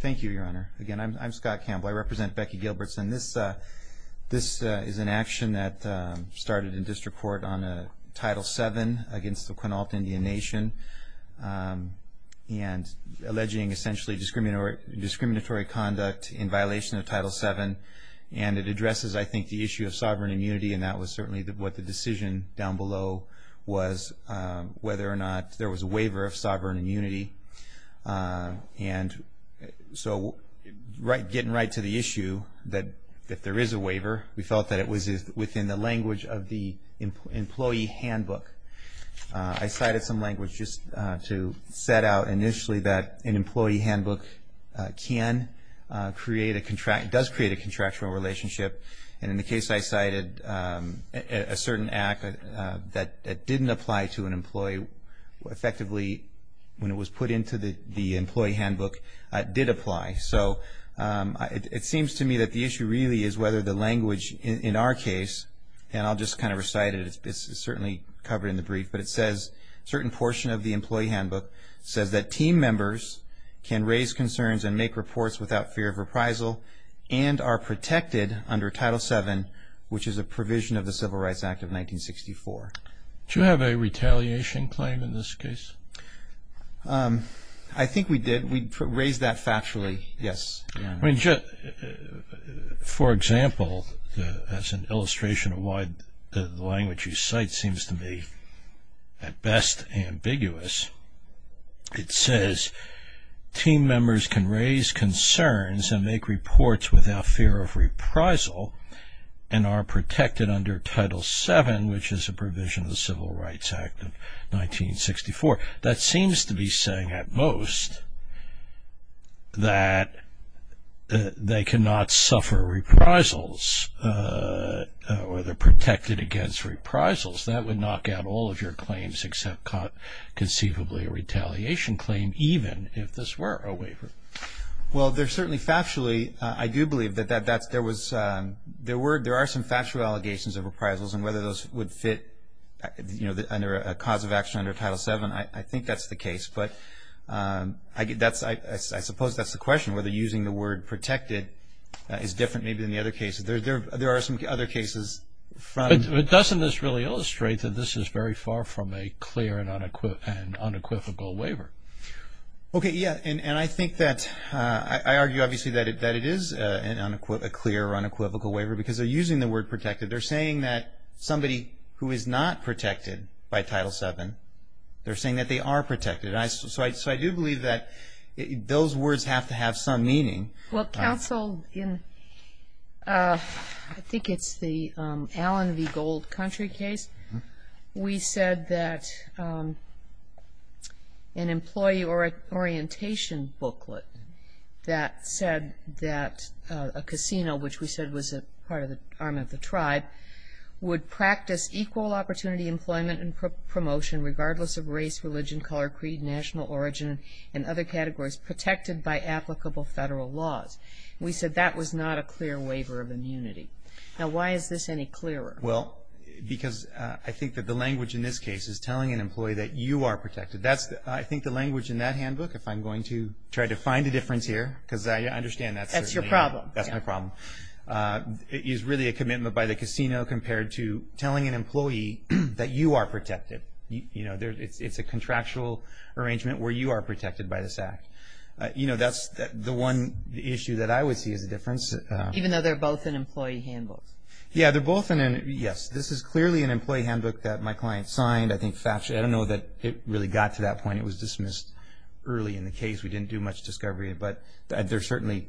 Thank you, Your Honor. Again, I'm Scott Campbell. I represent Becky Gilbertson. This is an action that started in district court on Title VII against the Quinault Indian Nation and alleging essentially discriminatory conduct in violation of Title VII. And it addresses, I think, the issue of sovereign immunity, and that was certainly what the decision down below was, whether or not there was a waiver of sovereign immunity. And so getting right to the issue that there is a waiver, we felt that it was within the language of the employee handbook. I cited some language just to set out initially that an employee handbook can create a contract, does create a contractual relationship. And in the case I cited, a certain act that didn't apply to an employee, effectively when it was put into the employee handbook, it did apply. So it seems to me that the issue really is whether the language in our case, and I'll just kind of recite it, it's certainly covered in the brief, but it says a certain portion of the employee handbook says that team members can raise concerns and make reports without fear of reprisal and are protected under Title VII, which is a provision of the Civil Rights Act of 1964. Did you have a retaliation claim in this case? I think we did. We raised that factually, yes. For example, as an illustration of why the language you cite seems to me at best ambiguous, it says team members can raise concerns and make reports without fear of reprisal and are protected under Title VII, which is a provision of the Civil Rights Act of 1964. That seems to be saying at most that they cannot suffer reprisals or they're protected against reprisals. That would knock out all of your claims except conceivably a retaliation claim, even if this were a waiver. Well, certainly factually I do believe that there are some factual allegations of reprisals and whether those would fit under a cause of action under Title VII. I think that's the case, but I suppose that's the question, whether using the word protected is different maybe than the other cases. There are some other cases. But doesn't this really illustrate that this is very far from a clear and unequivocal waiver? Okay, yeah. And I think that I argue obviously that it is a clear or unequivocal waiver because they're using the word protected. They're saying that somebody who is not protected by Title VII, they're saying that they are protected. So I do believe that those words have to have some meaning. Well, counsel, I think it's the Allen v. Gold country case. We said that an employee orientation booklet that said that a casino, which we said was part of the arm of the tribe, would practice equal opportunity employment and promotion regardless of race, religion, color, creed, national origin, and other categories protected by applicable federal laws. We said that was not a clear waiver of immunity. Now, why is this any clearer? Well, because I think that the language in this case is telling an employee that you are protected. I think the language in that handbook, if I'm going to try to find a difference here, because I understand that's your problem, is really a commitment by the casino compared to telling an employee that you are protected. You know, it's a contractual arrangement where you are protected by this act. You know, that's the one issue that I would see as a difference. Even though they're both an employee handbook. Yes, this is clearly an employee handbook that my client signed. I don't know that it really got to that point. It was dismissed early in the case. We didn't do much discovery. But there are certainly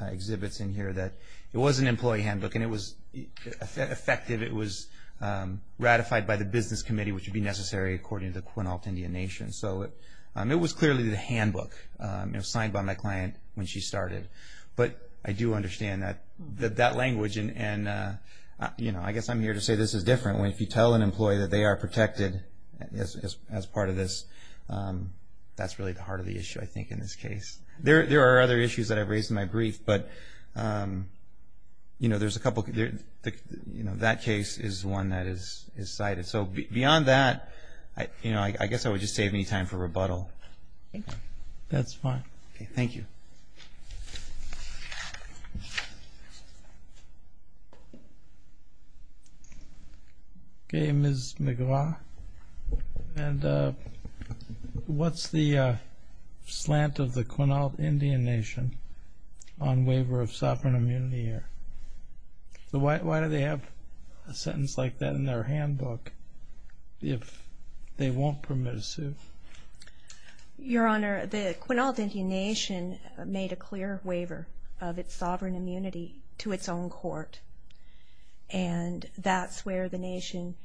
exhibits in here that it was an employee handbook, and it was effective. It was ratified by the business committee, which would be necessary according to the Quinault Indian Nation. So it was clearly the handbook. It was signed by my client when she started. But I do understand that language, and, you know, I guess I'm here to say this is different. If you tell an employee that they are protected as part of this, that's really the heart of the issue, I think, in this case. There are other issues that I've raised in my brief, but, you know, there's a couple. That case is one that is cited. So beyond that, you know, I guess I would just save me time for rebuttal. That's fine. Thank you. Okay, Ms. McGraw. And what's the slant of the Quinault Indian Nation on waiver of sovereign immunity here? Why do they have a sentence like that in their handbook if they won't permit a suit? Your Honor, the Quinault Indian Nation made a clear waiver of its sovereign immunity to its own court, and that's where the nation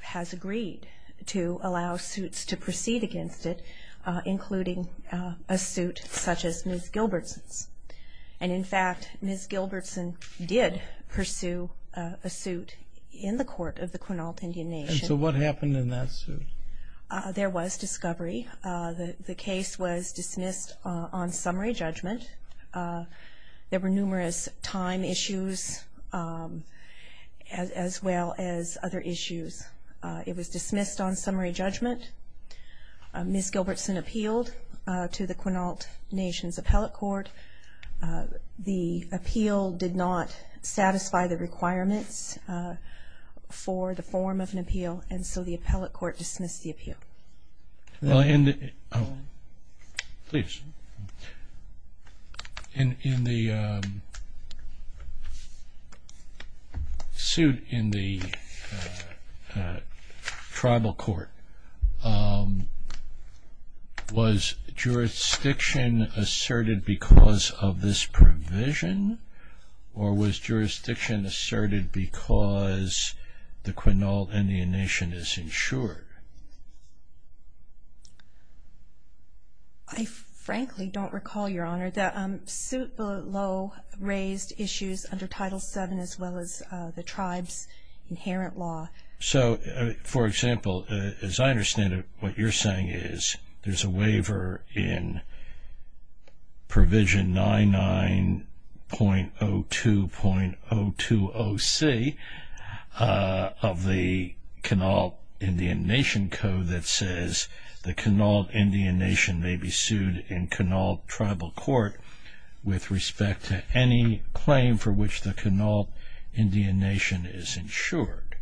has agreed to allow suits to proceed against it, including a suit such as Ms. Gilbertson's. And, in fact, Ms. Gilbertson did pursue a suit in the court of the Quinault Indian Nation. And so what happened in that suit? There was discovery. The case was dismissed on summary judgment. There were numerous time issues as well as other issues. It was dismissed on summary judgment. Ms. Gilbertson appealed to the Quinault Nation's appellate court. The appeal did not satisfy the requirements for the form of an appeal, and so the appellate court dismissed the appeal. In the suit in the tribal court, was jurisdiction asserted because of this provision, or was jurisdiction asserted because the Quinault Indian Nation is insured? I frankly don't recall, Your Honor, that suit below raised issues under Title VII as well as the tribe's inherent law. So, for example, as I understand it, what you're saying is there's a waiver in Provision 99.02.020C of the Quinault Indian Nation Code that says the Quinault Indian Nation may be sued in Quinault tribal court with respect to any claim for which the Quinault Indian Nation is insured.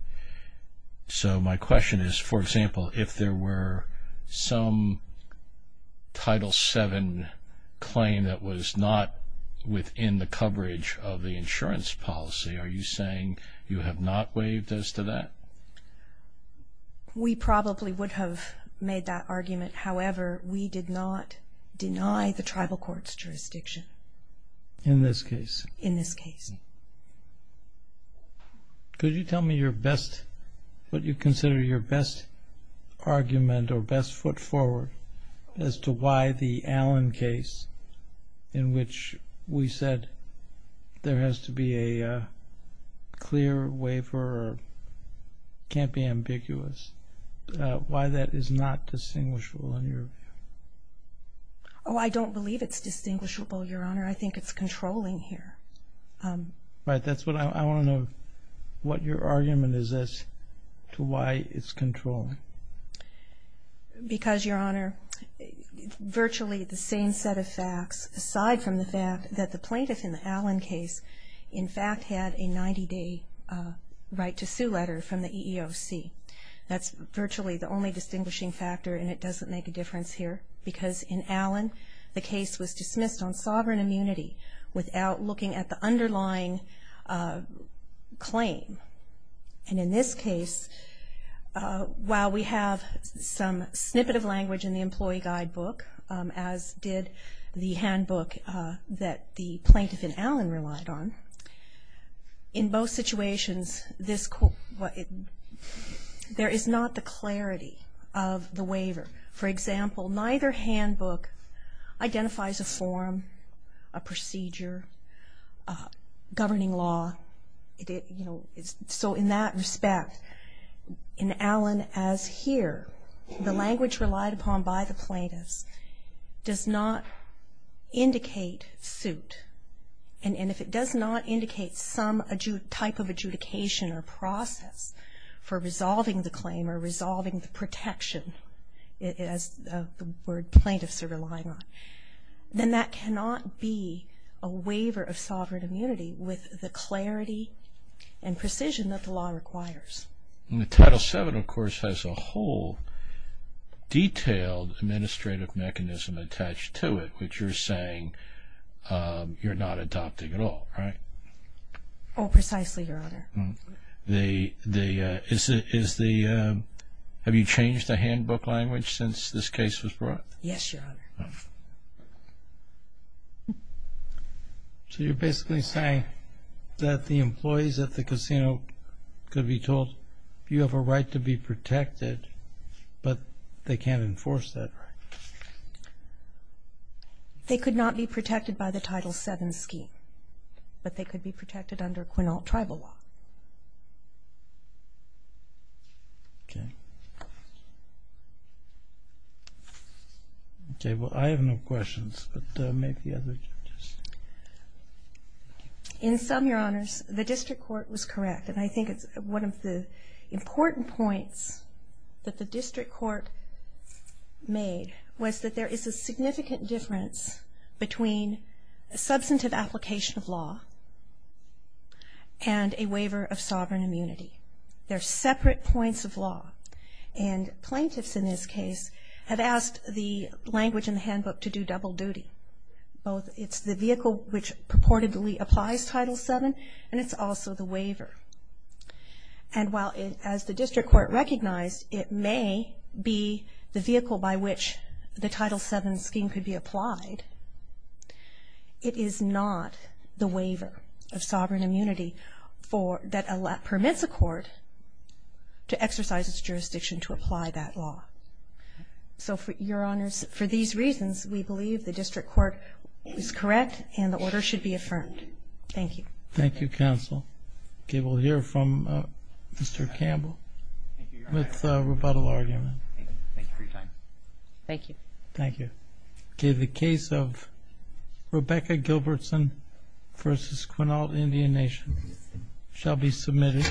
So my question is, for example, if there were some Title VII claim that was not within the coverage of the insurance policy, are you saying you have not waived as to that? We probably would have made that argument. However, we did not deny the tribal court's jurisdiction. In this case? In this case. Could you tell me what you consider your best argument or best foot forward as to why the Allen case, in which we said there has to be a clear waiver or can't be ambiguous, why that is not distinguishable in your view? Oh, I don't believe it's distinguishable, Your Honor. I think it's controlling here. Right. I want to know what your argument is as to why it's controlling. Because, Your Honor, virtually the same set of facts, aside from the fact that the plaintiff in the Allen case, in fact, had a 90-day right to sue letter from the EEOC. That's virtually the only distinguishing factor, and it doesn't make a difference here, because in Allen the case was dismissed on sovereign immunity without looking at the underlying claim. And in this case, while we have some snippet of language in the employee guidebook, as did the handbook that the plaintiff in Allen relied on, in both situations, there is not the clarity of the waiver. For example, neither handbook identifies a form, a procedure, governing law. So in that respect, in Allen as here, the language relied upon by the plaintiffs does not indicate suit. And if it does not indicate some type of adjudication or process for resolving the claim or resolving the protection, as the word plaintiffs are relying on, then that cannot be a waiver of sovereign immunity with the clarity and precision that the law requires. Title VII, of course, has a whole detailed administrative mechanism attached to it, which you're saying you're not adopting at all, right? Oh, precisely, Your Honor. Have you changed the handbook language since this case was brought? Yes, Your Honor. So you're basically saying that the employees at the casino could be told, you have a right to be protected, but they can't enforce that right? They could not be protected by the Title VII scheme, but they could be protected under Quinault tribal law. Okay. Okay, well, I have no questions, but maybe the other judges. In sum, Your Honors, the district court was correct. And I think it's one of the important points that the district court made was that there is a significant difference between a substantive application of law and a waiver of sovereign immunity. They're separate points of law. And plaintiffs in this case have asked the language in the handbook to do double duty. It's the vehicle which purportedly applies Title VII, and it's also the waiver. And while, as the district court recognized, it may be the vehicle by which the Title VII scheme could be applied, it is not the waiver of sovereign immunity that permits a court to exercise its jurisdiction to apply that law. So, Your Honors, for these reasons, we believe the district court is correct and the order should be affirmed. Thank you. Thank you, counsel. Okay, we'll hear from Mr. Campbell with rebuttal argument. Thank you for your time. Thank you. Thank you. Okay, the case of Rebecca Gilbertson v. Quinault Indian Nation shall be submitted.